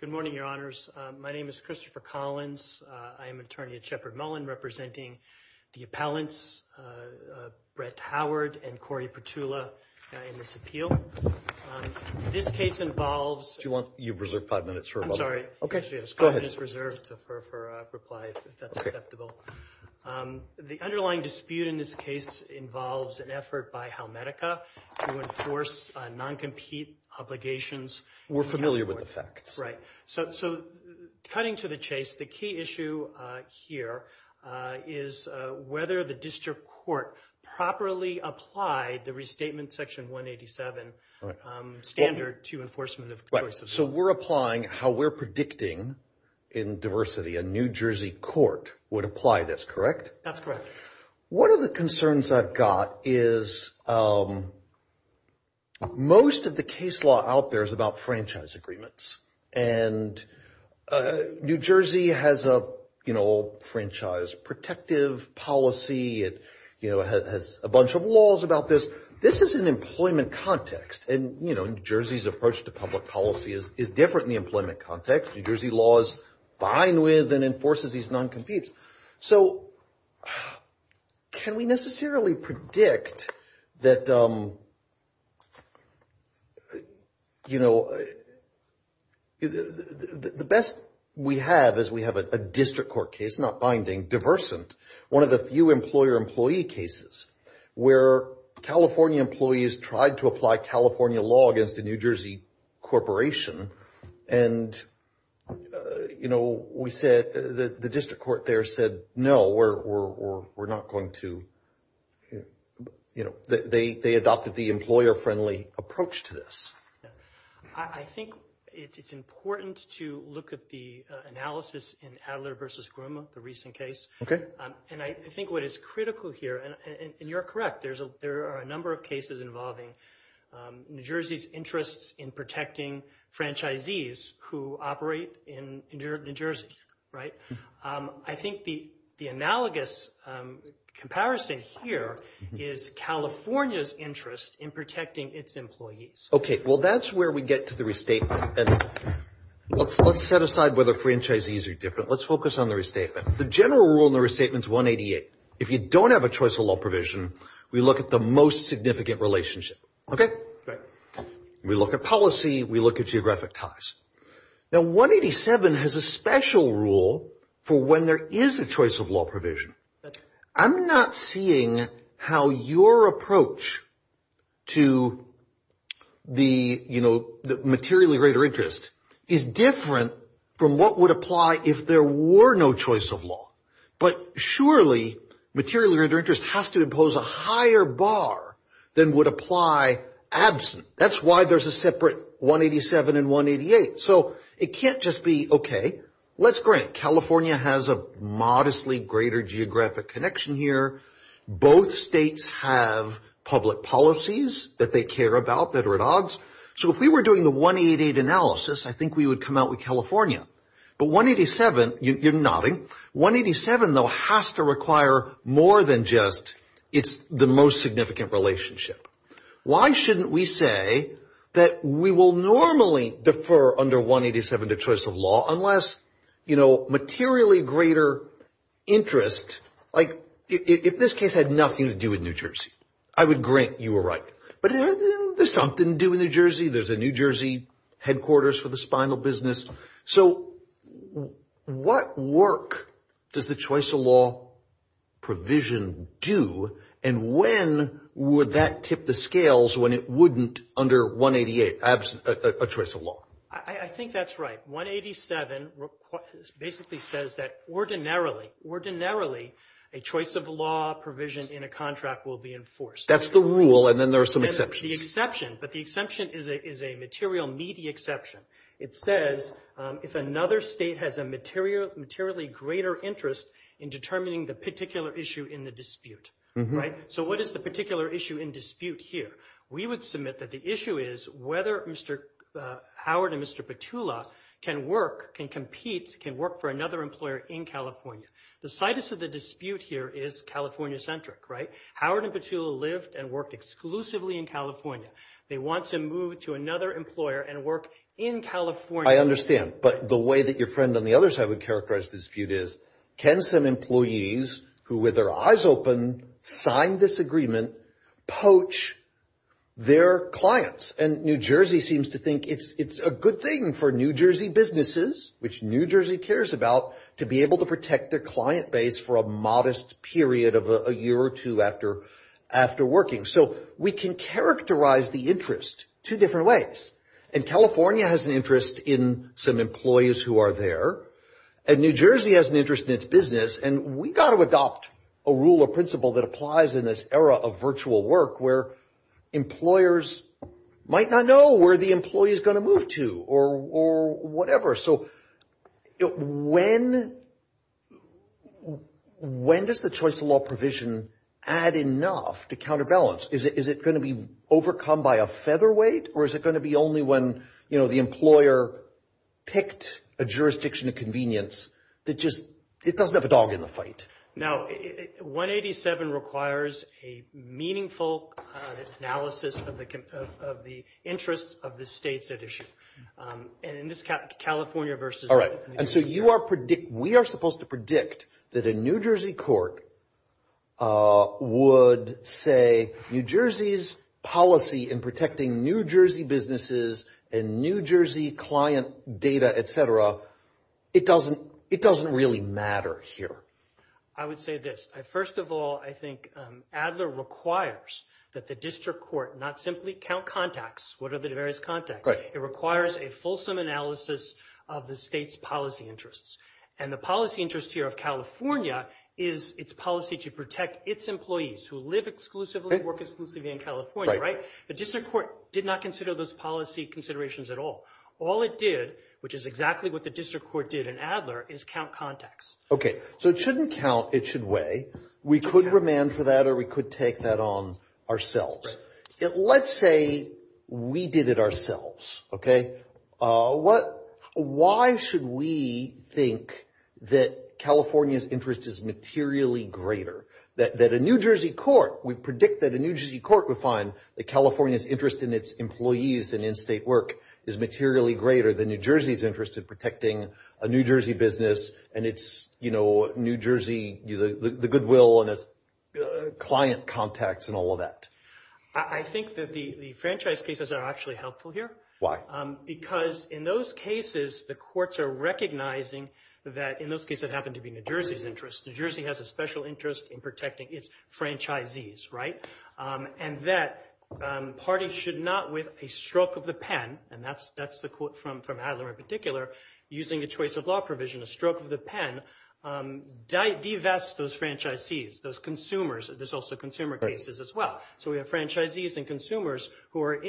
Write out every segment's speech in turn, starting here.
Good morning, your honors. My name is Christopher Collins. I am attorney at Shepherd Mullen representing the appellants Brett Howard and Corey Petula in this appeal. This case involves Do you want, you've reserved five minutes. I'm sorry. Okay, she has five minutes reserved for her reply if that's acceptable. The underlying dispute in this case involves an effort by Halmedica to enforce non-compete obligations. We're familiar with the facts. Right. So cutting to the chase, the key issue here is whether the district court properly applied the restatement section 187 standard to enforcement of choice of law. So we're applying how we're predicting in diversity, a New Jersey court would apply this, correct? That's correct. What are the Most of the case law out there is about franchise agreements. And New Jersey has a, you know, franchise protective policy. It, you know, has a bunch of laws about this. This is an employment context. And, you know, New Jersey's approach to public policy is different in the employment context. New Jersey law is fine with and enforces these non-competes. So can we necessarily predict that, you know, the best we have is we have a district court case, not binding, diversant, one of the few employer-employee cases where California employees tried to apply California law against a New Jersey corporation. And, you know, we said, the district court there no, we're not going to, you know, they adopted the employer-friendly approach to this. I think it's important to look at the analysis in Adler v. Grumman, the recent case. Okay. And I think what is critical here, and you're correct, there are a number of cases involving New Jersey's interests in protecting franchisees who operate in New Jersey, right? I think the analogous comparison here is California's interest in protecting its employees. Okay. Well, that's where we get to the restatement. And let's set aside whether franchisees are different. Let's focus on the restatement. The general rule in the restatement is 188. If you don't have a choice of law provision, we look at the most significant for when there is a choice of law provision. I'm not seeing how your approach to the, you know, the materially greater interest is different from what would apply if there were no choice of law. But surely, materially greater interest has to impose a higher bar than would apply absent. That's why there's a separate 187 and 188. So it can't just be, okay, let's grant California has a modestly greater geographic connection here. Both states have public policies that they care about that are at odds. So if we were doing the 188 analysis, I think we would come out with California. But 187, you're nodding, 187 though has to require more than just it's the most significant relationship. Why shouldn't we say that we will normally defer under 187 to a choice of law, unless, you know, materially greater interest, like if this case had nothing to do with New Jersey, I would grant you were right. But there's something to do in New Jersey. There's a New Jersey headquarters for the spinal business. So what work does the choice of law provision do? And when would that tip the scales when it wouldn't under 188, a choice of law? I think that's right. 187 basically says that ordinarily, ordinarily, a choice of law provision in a contract will be enforced. That's the rule. And then there are some exceptions. The exception, but the exception is a material media exception. It says if another state has a materially greater interest in determining the particular issue in the dispute, right? So what is the particular issue in dispute here? We would submit that the issue is whether Mr. Howard and Mr. Petula can work, can compete, can work for another employer in California. The situs of the dispute here is California centric, right? Howard and Petula lived and worked exclusively in California. They want to move to another employer and work in California. I understand. But the way that your friend on the other side would characterize this dispute is, can some employees who with their eyes open, sign this agreement, poach their clients? And New Jersey thinks it's a good thing for New Jersey businesses, which New Jersey cares about, to be able to protect their client base for a modest period of a year or two after working. So we can characterize the interest two different ways. And California has an interest in some employees who are there. And New Jersey has an interest in its business. And we got to adopt a rule of principle that applies in this era of virtual work where employers might not know where the employee is going to move to or whatever. So when does the choice of law provision add enough to counterbalance? Is it going to be overcome by a featherweight or is it going to be only when the employer picked a jurisdiction of convenience that just, it doesn't have a dog in the fight? Now, 187 requires a meaningful analysis of the interests of the states at issue. And in this California versus New Jersey- All right. And so we are supposed to predict that a New Jersey court would say, New Jersey's policy in protecting New Jersey businesses and New Jersey client data, et cetera, it doesn't really matter here. I would say this. First of all, I think Adler requires that the district court not simply count contacts. What are the various contacts? It requires a fulsome analysis of the state's policy interests. And the policy interest here of California is its policy to protect its employees who live exclusively, work exclusively in California. The district court did not consider those policy considerations at all. All it did, which is exactly what the district court did in Adler, is count contacts. Okay. So it shouldn't count, it should weigh. We could remand for that or we could take that on ourselves. Let's say we did it ourselves, okay? Why should we think that California's interest is materially greater? That a New Jersey court, we predict that a New Jersey's in in-state work is materially greater than New Jersey's interest in protecting a New Jersey business and its New Jersey, the goodwill and its client contacts and all of that. I think that the franchise cases are actually helpful here. Why? Because in those cases, the courts are recognizing that in those cases that happen to be New Jersey's interest, New Jersey has a special interest in protecting its franchisees, right? And that parties should not, with a stroke of the pen, and that's the quote from Adler in particular, using a choice of law provision, a stroke of the pen, divest those franchisees, those consumers. There's also consumer cases as well. So we have franchisees and consumers who are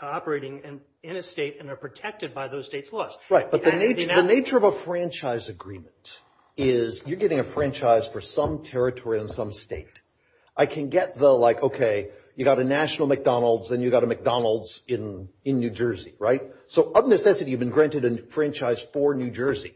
operating in a state and are protected by those states' laws. Right. But the nature of a franchise agreement is you're getting a franchise for some territory in some state. I can get the like, okay, you got a national McDonald's and you got a McDonald's in New Jersey, right? So of necessity, you've been granted a franchise for New Jersey.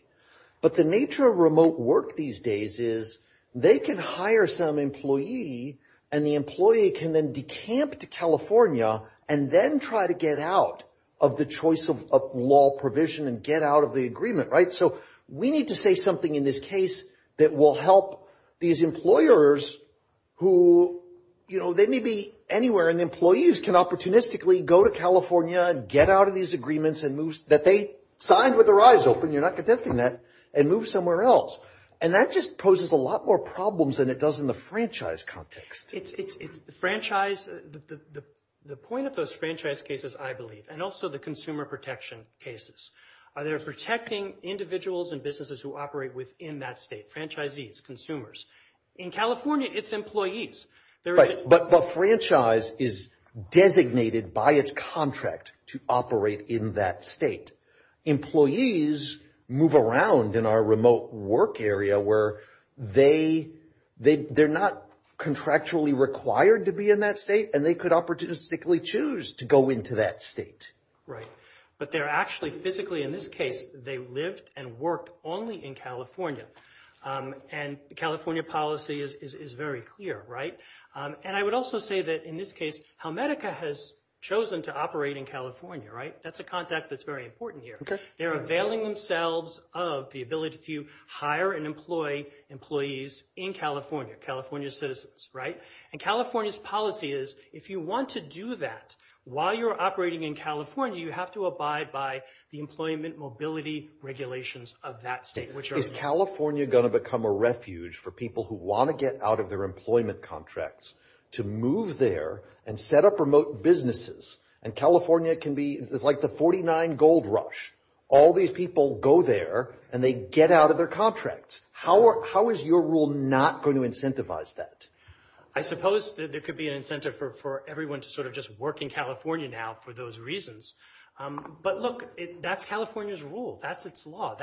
But the nature of remote work these days is they can hire some employee and the employee can then decamp to California and then try to get out of the choice of law provision and get out of the So we need to say something in this case that will help these employers who, you know, they may be anywhere and the employees can opportunistically go to California and get out of these agreements and move, that they signed with their eyes open, you're not contesting that, and move somewhere else. And that just poses a lot more problems than it does in the franchise context. It's franchise, the point of those franchise cases, I believe, and also the consumer protection cases. They're protecting individuals and businesses who operate within that state, franchisees, consumers. In California, it's employees. Right. But franchise is designated by its contract to operate in that state. Employees move around in our remote work area where they're not contractually required to be in that state and they could opportunistically choose to go into that state. Right. But they're actually physically, in this case, they lived and worked only in California. And the California policy is very clear. Right. And I would also say that in this case, Helmetica has chosen to operate in California. Right. That's a contact that's very important here. They're availing themselves of the ability to hire and employ employees in California, California citizens. Right. And California's policy is if you want to do that while you're operating in California, you have to abide by the employment mobility regulations of that state. Is California going to become a refuge for people who want to get out of their employment contracts to move there and set up remote businesses? And California can be, it's like the 49 gold rush. All these people go there and they get out of their contracts. How is your rule not going to incentivize that? I suppose there could be an incentive for everyone to sort of just work in California now for those reasons. But look, that's California's rule. That's its law.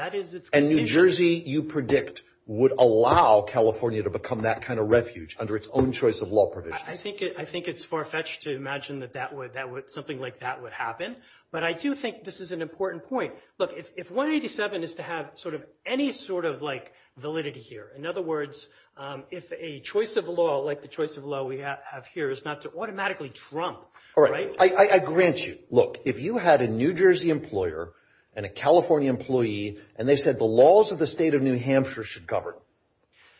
And New Jersey, you predict, would allow California to become that kind of refuge under its own choice of law provisions. I think it's far-fetched to imagine that something like that would happen. But I do think this is an important point. Look, if 187 is to have sort of any sort of like validity here, in other words, if a choice of law like the choice of law we have here is not automatically Trump, right? I grant you. Look, if you had a New Jersey employer and a California employee and they said the laws of the state of New Hampshire should govern,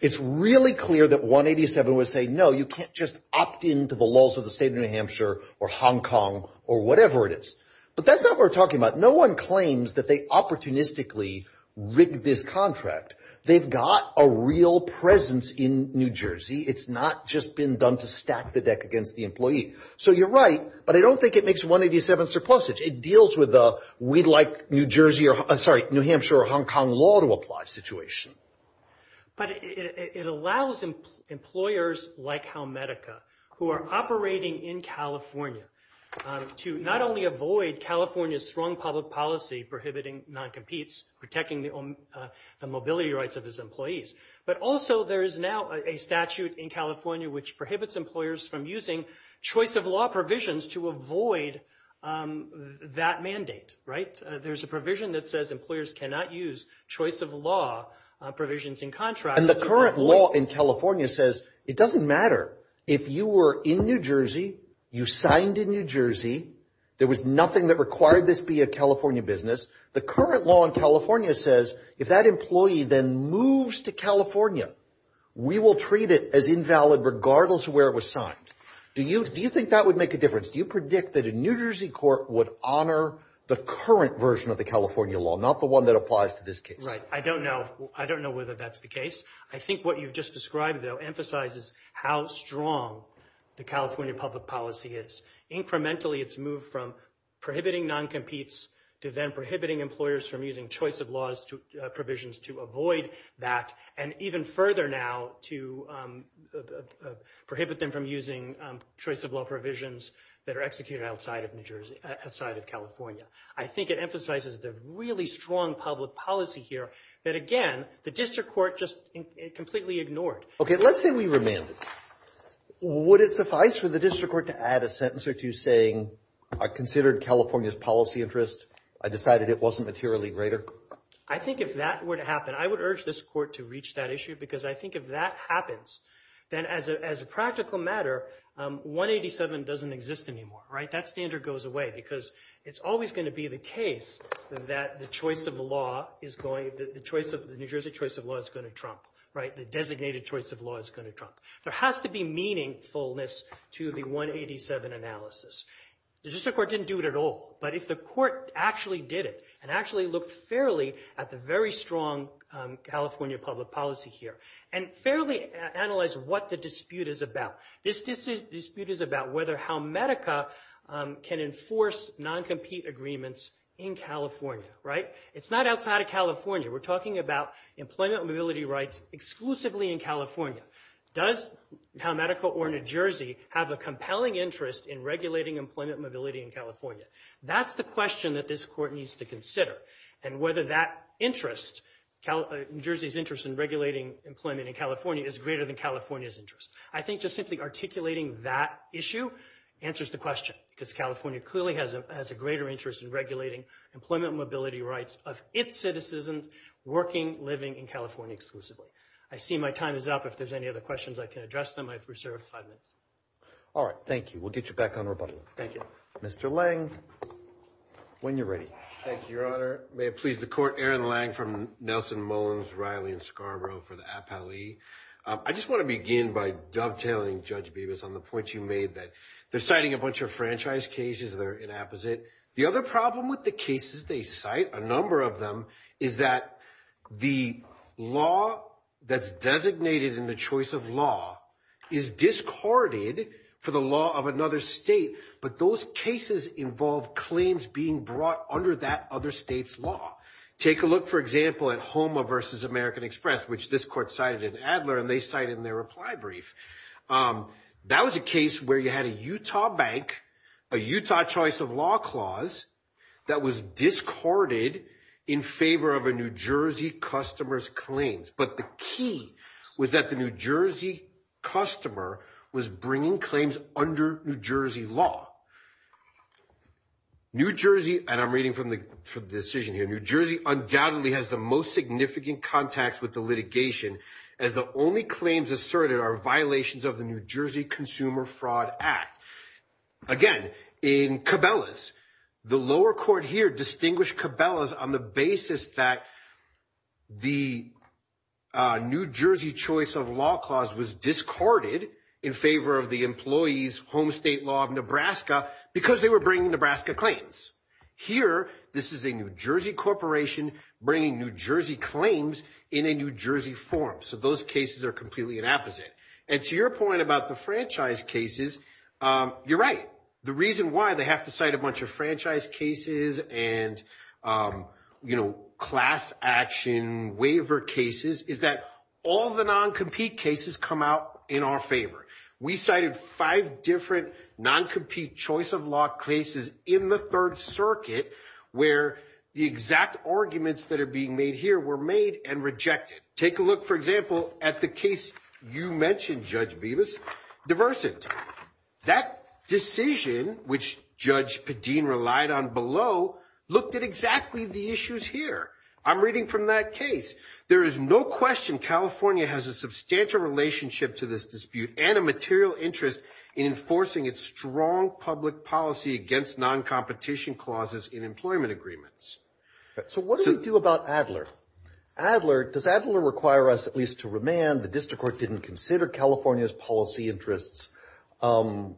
it's really clear that 187 would say, no, you can't just opt into the laws of the state of New Hampshire or Hong Kong or whatever it is. But that's not what we're talking about. No one claims that they opportunistically rigged this contract. They've got a real presence in New Jersey. It's not just been done to stack the deck against the employee. So you're right, but I don't think it makes 187 surplusage. It deals with the we'd like New Jersey or, I'm sorry, New Hampshire or Hong Kong law to apply situation. But it allows employers like Helmetica, who are operating in California, to not only avoid California's strong public policy prohibiting non-competes, protecting the mobility rights of employees, but also there is now a statute in California which prohibits employers from using choice of law provisions to avoid that mandate, right? There's a provision that says employers cannot use choice of law provisions in contract. And the current law in California says it doesn't matter if you were in New Jersey, you signed in New Jersey, there was nothing that required this be a California business. The current law in California says if that employee then moves to California, we will treat it as invalid regardless of where it was signed. Do you think that would make a difference? Do you predict that a New Jersey court would honor the current version of the California law, not the one that applies to this case? Right. I don't know. I don't know whether that's the case. I think what you've just described, though, emphasizes how strong the California public policy is. Incrementally, it's moved from prohibiting non-competes to then prohibiting employers from using choice of law provisions to avoid that, and even further now to prohibit them from using choice of law provisions that are executed outside of California. I think it emphasizes the really strong public policy here that, again, the district court just completely ignored. Okay. Let's say we remanded. Would it suffice for the district court to add a sentence or two saying, I considered California's policy interest, I decided it wasn't materially greater? I think if that were to happen, I would urge this court to reach that issue because I think if that happens, then as a practical matter, 187 doesn't exist anymore, right? That standard goes away because it's always going to be the case that the choice of the law is going, the New Jersey choice of law is going to trump, right? The designated choice of law is going to trump. There has to be meaningfulness to the 187 analysis. The district court didn't do it at all, but if the court actually did it and actually looked fairly at the very strong California public policy here and fairly analyzed what the dispute is about, this dispute is about whether how Medica can enforce non-compete agreements in California, right? It's not outside of California. We're talking about employment mobility rights exclusively in California. Does how Medica or New Jersey have a compelling interest in regulating employment mobility in California? That's the question that this court needs to consider and whether that interest, New Jersey's interest in regulating employment in California is greater than California's interest. I think just simply articulating that issue answers the question because California clearly has a greater interest in regulating employment mobility rights of its citizens working, living in California exclusively. I see my time is up. If there's any other questions, I can address them. I have reserved five minutes. All right, thank you. We'll get you back on rebuttal. Thank you. Mr. Lange, when you're ready. Thank you, Your Honor. May it please the court, Aaron Lange from Nelson Mullins, Riley and Scarborough for the appellee. I just want to begin by dovetailing, Judge Bevis, on the point you made that they're citing a bunch of franchise cases that are inapposite. The other problem with the cases they cite, a number of them, is that the law that's designated in the choice of law is discarded for the law of another state. But those cases involve claims being brought under that other state's law. Take a look, for example, at HOMA versus American Express, which this court cited in Adler, and they cite in their reply brief. That was a case where you had a Utah bank, a Utah choice of law clause that was discarded in favor of a New Jersey customer's claims. But the key was that the New Jersey customer was bringing claims under New Jersey law. New Jersey, and I'm reading from the decision here, New Jersey undoubtedly has the most significant contacts with the litigation, as the only claims asserted are violations of the New Jersey Consumer Fraud Act. Again, in Cabela's, the lower court here distinguished Cabela's on the basis that the New Jersey choice of law clause was discarded in favor of the employee's state law of Nebraska because they were bringing Nebraska claims. Here, this is a New Jersey corporation bringing New Jersey claims in a New Jersey form. So those cases are completely the opposite. And to your point about the franchise cases, you're right. The reason why they have to cite a bunch of franchise cases and class action waiver cases is that all the non-compete cases come out in our favor. We cited five different non-compete choice of law cases in the third circuit where the exact arguments that are being made here were made and rejected. Take a look, for example, at the case you mentioned, Judge Bevis, Diversant. That decision, which Judge Padin relied on below, looked at exactly the issues here. I'm reading from that case. There is no question California has a substantial relationship to this dispute and a material interest in enforcing its strong public policy against non-competition clauses in employment agreements. So what do we do about Adler? Adler, does Adler require us at least to remand? The district court didn't consider California's policy interests. No,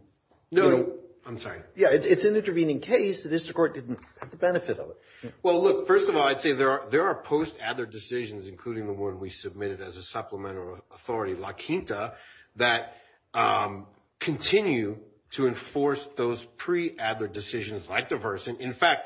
I'm sorry. Yeah, it's an intervening case. The district court didn't have the benefit of it. Well, look, first of all, I'd say there are post-Adler decisions, including the one we submitted as a supplemental authority, La Quinta, that continue to enforce those pre-Adler decisions like Diversant. In fact,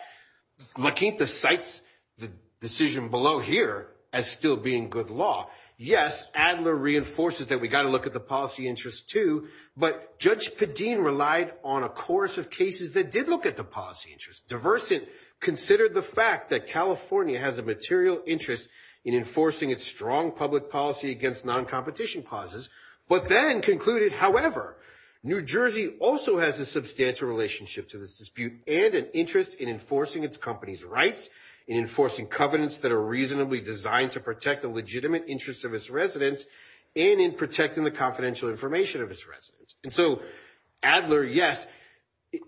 La Quinta cites the decision below here as still being good law. Yes, Adler reinforces that we got to look at the policy interests too, but Judge Padin relied on a chorus of cases that did look at the policy interests. Diversant considered the fact that California has a material interest in enforcing its strong public policy against non-competition clauses, but then concluded, however, New Jersey also has a substantial relationship to this dispute and an interest in enforcing its company's rights, in enforcing covenants that are reasonably designed to protect the legitimate interests of its residents, and in protecting the confidential information of its And so Adler, yes,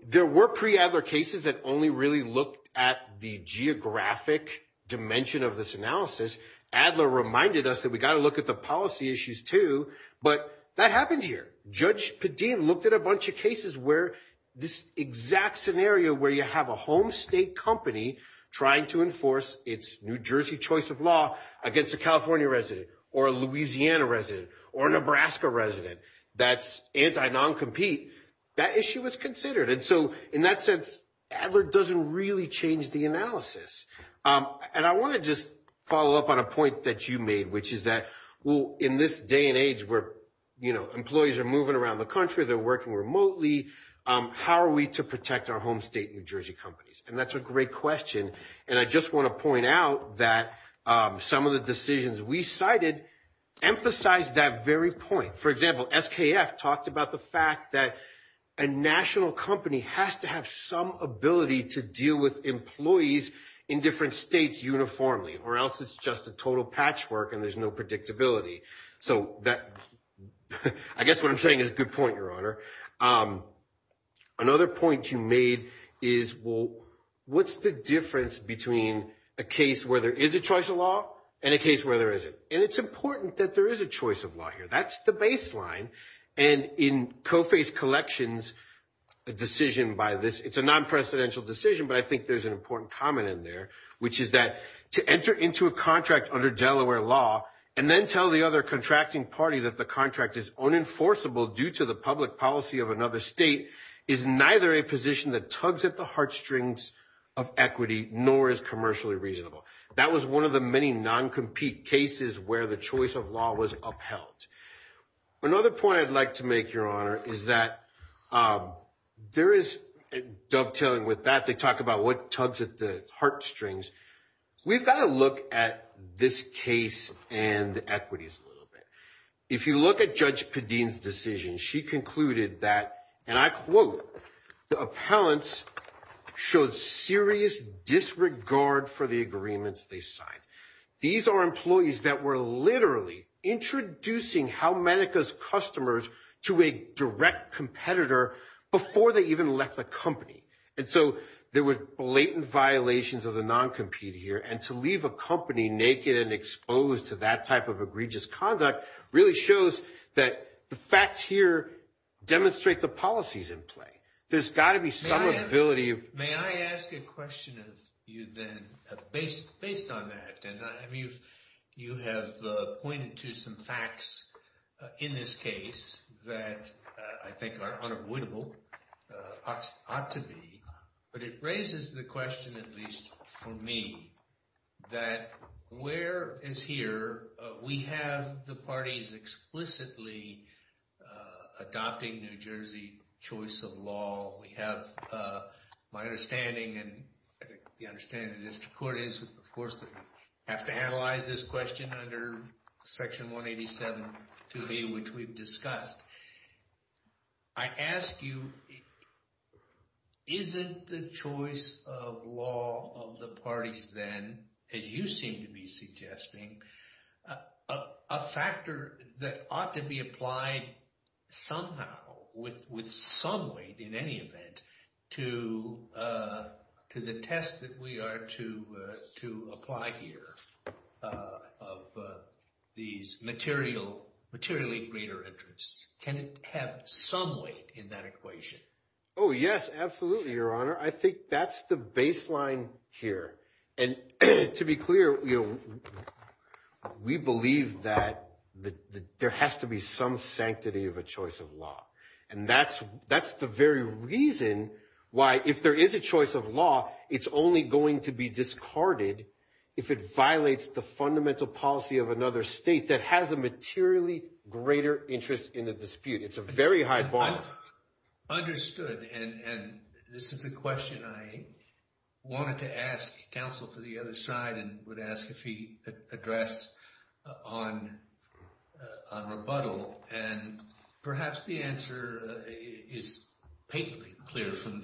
there were pre-Adler cases that only really looked at the geographic dimension of this analysis. Adler reminded us that we got to look at the policy issues too, but that happened here. Judge Padin looked at a bunch of cases where this exact scenario where you have a home state company trying to enforce its New Jersey choice of law against a California resident or a Louisiana resident or Nebraska resident that's anti-non-compete, that issue was considered. And so in that sense, Adler doesn't really change the analysis. And I want to just follow up on a point that you made, which is that, well, in this day and age where, you know, employees are moving around the country, they're working remotely, how are we to protect our home state New Jersey companies? And that's a And I just want to point out that some of the decisions we cited emphasize that very point. For example, SKF talked about the fact that a national company has to have some ability to deal with employees in different states uniformly, or else it's just a total patchwork and there's no predictability. So that, I guess what I'm saying is a good point, Your Honor. Another point you made is, well, what's the difference between a case where there is a choice of law and a case where there isn't? And it's important that there is a choice of law here. That's the baseline. And in COFAE's collections, a decision by this, it's a non-precedential decision, but I think there's an important comment in there, which is that to enter into a contract under Delaware law and then tell the other contracting party that the contract is unenforceable due to the public policy of the state is neither a position that tugs at the heartstrings of equity, nor is commercially reasonable. That was one of the many non-compete cases where the choice of law was upheld. Another point I'd like to make, Your Honor, is that there is dovetailing with that. They talk about what tugs at the heartstrings. We've got to look at this case and equities a little bit. If you look at Judge Padin's decision, she concluded that, and I quote, the appellants showed serious disregard for the agreements they signed. These are employees that were literally introducing Helmetica's customers to a direct competitor before they even left the company. And so there were blatant violations of the non-compete here. And to leave a company naked and exposed to that type of egregious conduct really shows that the facts here demonstrate the policies in play. There's got to be some ability of- May I ask a question of you then, based on that. You have pointed to some facts in this case that I think are unavoidable, ought to be. But it raises the question, at least for me, that where is here, we have the parties explicitly adopting New Jersey choice of law. We have my understanding, and I think the understanding of the district court is, of course, that we have to analyze this question under Section 187, 2B, which we've discussed. I ask you, isn't the choice of law of the parties then, as you seem to be suggesting, a factor that ought to be applied somehow, with some weight in any event, to the test that we are to apply here of these materially greater interests? Can it have some weight in that equation? Oh, yes, absolutely, Your Honor. I think that's the baseline here. And to be clear, we believe that there has to be some sanctity of a choice of law. And that's the very reason why, if there is a choice of law, it's only going to be discarded if it violates the fundamental policy of another state that has a materially greater interest in the dispute. It's a very high bar. Understood. And this is a question I wanted to ask counsel for the other side, and ask if he addressed on rebuttal. And perhaps the answer is painfully clear from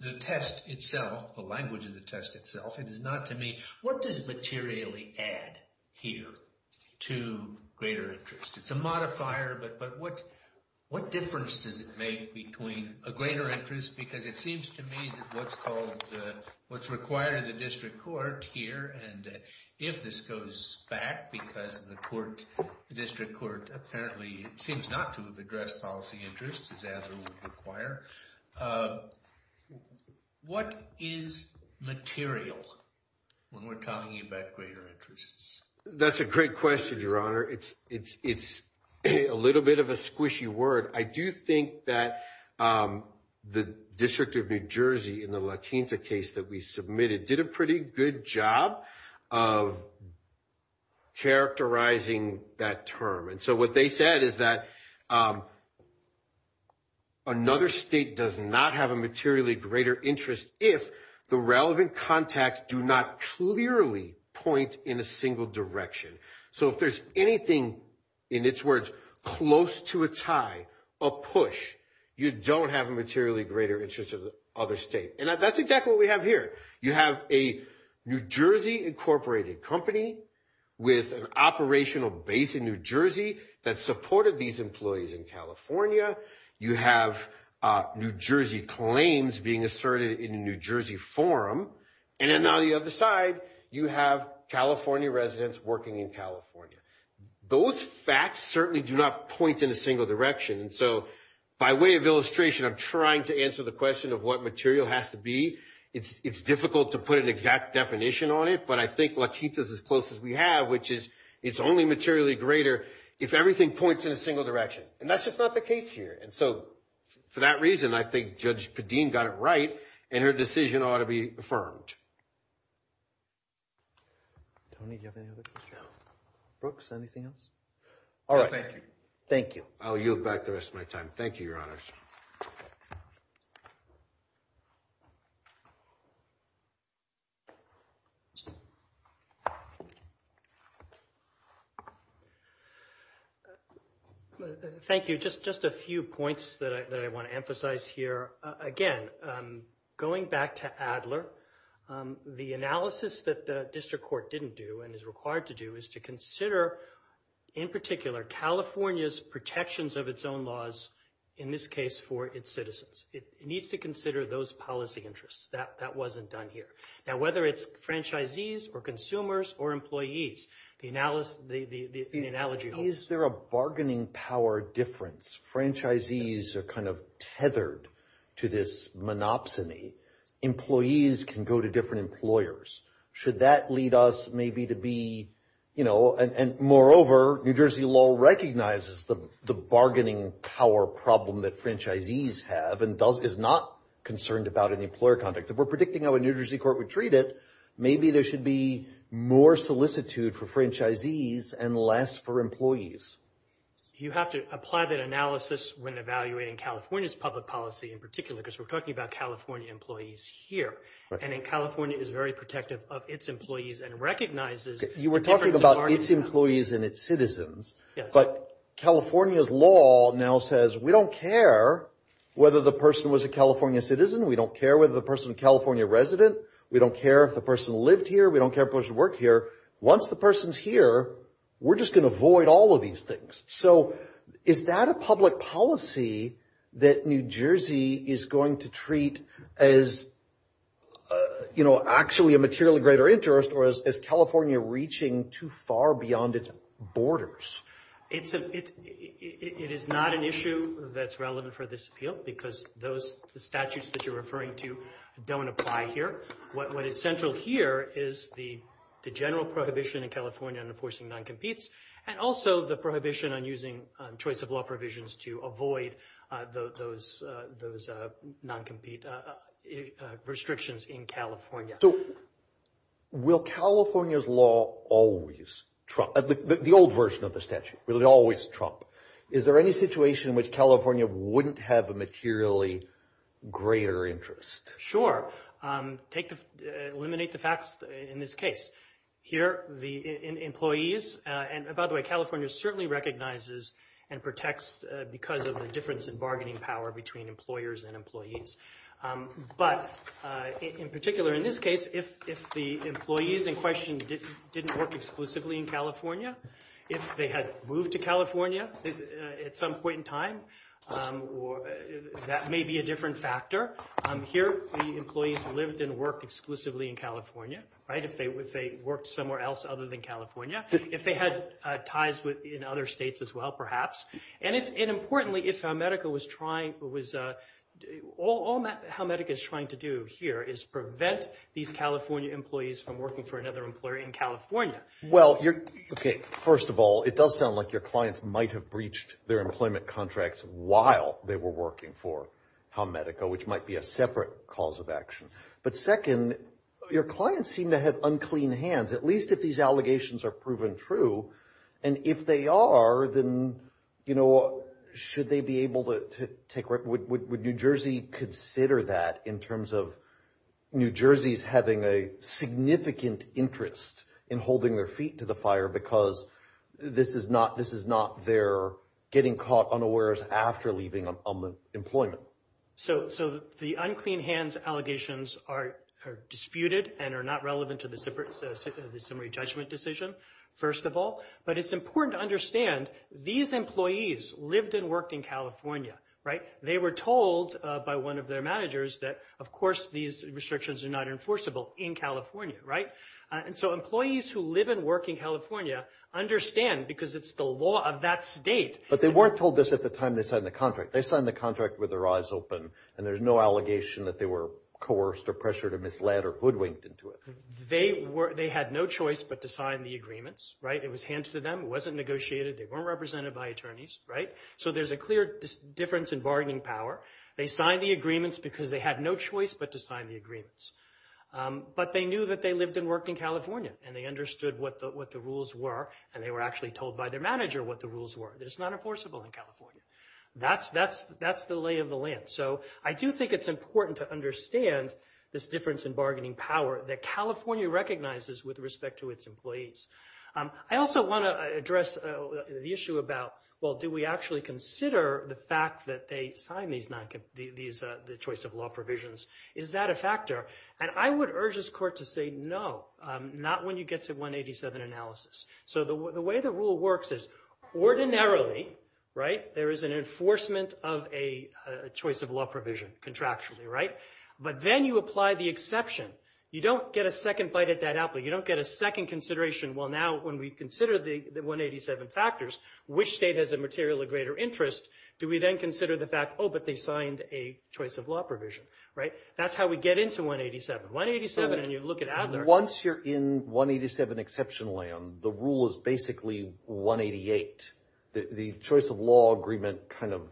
the test itself, the language of the test itself. It is not to me, what does materially add here to greater interest? It's a modifier, but what difference does it make between a greater interest? Because it seems to me that what's called, what's required in the district court here, and if this goes back, because the court, the district court, apparently, seems not to have addressed policy interests as added would require. What is material when we're talking about greater interests? That's a great question, Your Honor. It's a little bit of a squishy word. I do think that the District of New Jersey in the La Quinta case that we submitted did a pretty good job of characterizing that term. And so what they said is that another state does not have a materially greater interest if the relevant contacts do not clearly point in a single direction. So if there's anything, in its words, close to a tie, a push, you don't have a materially greater interest of the other state. And that's exactly what we have here. You have a New Jersey incorporated company with an operational base in New Jersey that supported these employees in California. You have New Jersey claims being asserted in a New Jersey forum. And then on the other side, you have California residents working in California. Those facts certainly do not point in a single direction. So by way of illustration, I'm trying to answer the question of what material has to be. It's difficult to put an exact definition on it, but I think La Quinta is as close as we have, which is it's only materially greater if everything points in a single direction. And that's just not the case here. And so for that reason, I think Judge Padin got it right, and her decision ought to be affirmed. Tony, do you have any other questions? No. Brooks, anything else? All right. Thank you. Thank you. I'll yield back the rest of my time. Thank you, Your Honors. Thank you. Just a few points that I want to emphasize here. Again, going back to Adler, the analysis that the district court didn't do and is required to do is to consider, in particular, California's protections of its own laws, in this case for its citizens. It needs to consider those policy interests. That wasn't done here. Now, whether it's franchisees or consumers or employees, the analogy holds. Is there a bargaining power difference? Franchisees are kind of tethered to this monopsony. Employees can go to different employers. Should that lead us maybe to be... Moreover, New Jersey law recognizes the bargaining power problem that franchisees have and is not concerned about any employer conduct. If we're predicting how a New Jersey court would treat it, maybe there should be more solicitude for franchisees and less for employees. You have to apply that analysis when evaluating California's public policy, in particular, because we're talking about California employees here. California is very protective of its employees and recognizes... You were talking about its employees and its citizens, but California's law now says we don't care whether the person was a California citizen. We don't care whether the person is a California resident. We don't care if the person lived here. We don't care if the person worked here. Once the person's here, we're just going to avoid all of these things. Is that a public policy that New Jersey is going to treat as actually a materially greater interest or as California reaching too far beyond its borders? It is not an issue that's relevant for this appeal because the statutes that you're referring to don't apply here. What is central here is the general prohibition in California on enforcing non-competes and also the prohibition on using choice of law provisions to avoid those non-compete restrictions in California. Will California's law always trump... The old version of the statute, will it always trump? Is there any situation in which California wouldn't have a materially greater interest? Sure. Eliminate the facts in this case. Here, the employees... And by the way, California certainly recognizes and protects because of the difference in bargaining power between employers and employees. But in particular, in this case, if the employees in question didn't work exclusively in California, if they had moved to California at some point in time, that may be a different factor. Here, the employees lived and worked exclusively in California. If they worked somewhere else other than California, if they had ties in other states as well, perhaps. And importantly, if Helmetica was trying... All Helmetica is trying to do here is prevent these California employees from working for another employer in California. Well, you're... Okay. First of all, it does sound like your clients might have breached their employment contracts while they were working for Helmetica, which might be a separate cause of action. But second, your clients seem to have unclean hands, at least if these allegations are proven true. And if they are, then should they be able to take... Would New Jersey consider that in terms of New Jersey's having a significant interest in holding their feet to the fire because this is not their getting caught unawares after leaving employment? So the unclean hands allegations are disputed and are not relevant to the summary judgment decision, first of all. But it's important to understand these employees lived and worked in California. They were told by one of their managers that, of course, these restrictions are not enforceable in California, right? And so employees who live and work in California understand because it's the law of that state. But they weren't told this at the time they signed the contract. They signed the contract with their eyes open and there's no allegation that they were coerced or pressured or misled or hoodwinked into it. They had no choice but to sign the agreements, right? It was handed to them. It wasn't negotiated. They weren't represented by attorneys, right? So there's a clear difference in bargaining power. They signed the agreements because they had no choice but to sign the agreements. But they knew that they lived and worked in California and they understood what the rules were and they were actually told by their manager what the rules were. It's not enforceable in California. That's the lay of the land. So I do think it's important to understand this difference in bargaining power that California recognizes with respect to its employees. I also want to address the issue about, well, do we actually consider the fact that they signed the choice of law provisions? Is that a factor? And I would urge this court to say no, not when you get to 187 analysis. So the way the rule works is ordinarily, right, there is an enforcement of a choice of law provision contractually, right? But then you apply the exception. You don't get a second bite at that apple. You don't get a second consideration. Well, now when we consider the 187 factors, which state has a materially greater interest, do we then consider the fact, oh, but they signed a choice of law provision, right? That's how we get into 187. 187 and you look at Adler. Once you're in 187 exception land, the rule is basically 188. The choice of law agreement kind of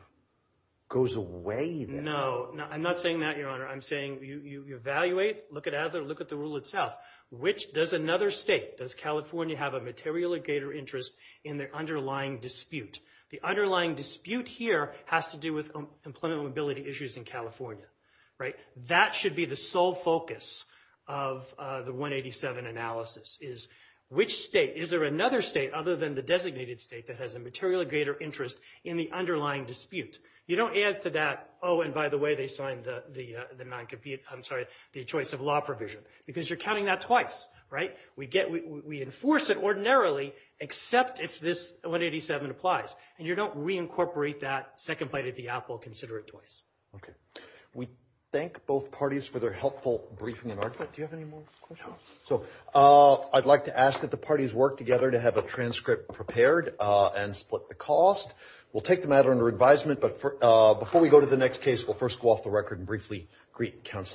goes away. No, I'm not saying that, Your Honor. I'm saying you evaluate, look at Adler, look at the rule itself. Which does another state, does California have a materially greater interest in their underlying dispute? The underlying dispute here has to do with employment mobility issues in California, right? That should be the sole focus of the 187 analysis, is which state, is there another state other than the designated state that has a materially greater interest in the underlying dispute? You don't add to that, oh, and by the way, they signed the non-competent, I'm sorry, the choice of law provision, because you're counting that twice, right? We enforce it ordinarily, except if this 187 applies, and you don't reincorporate that second bite at the apple, consider it twice. Okay. We thank both parties for their helpful briefing and argument. Do you have any more questions? No. So I'd like to ask that the parties work together to have a transcript prepared and split the cost. We'll take the matter under advisement, but before we go to the next case, we'll first go off the record and briefly greet counsel.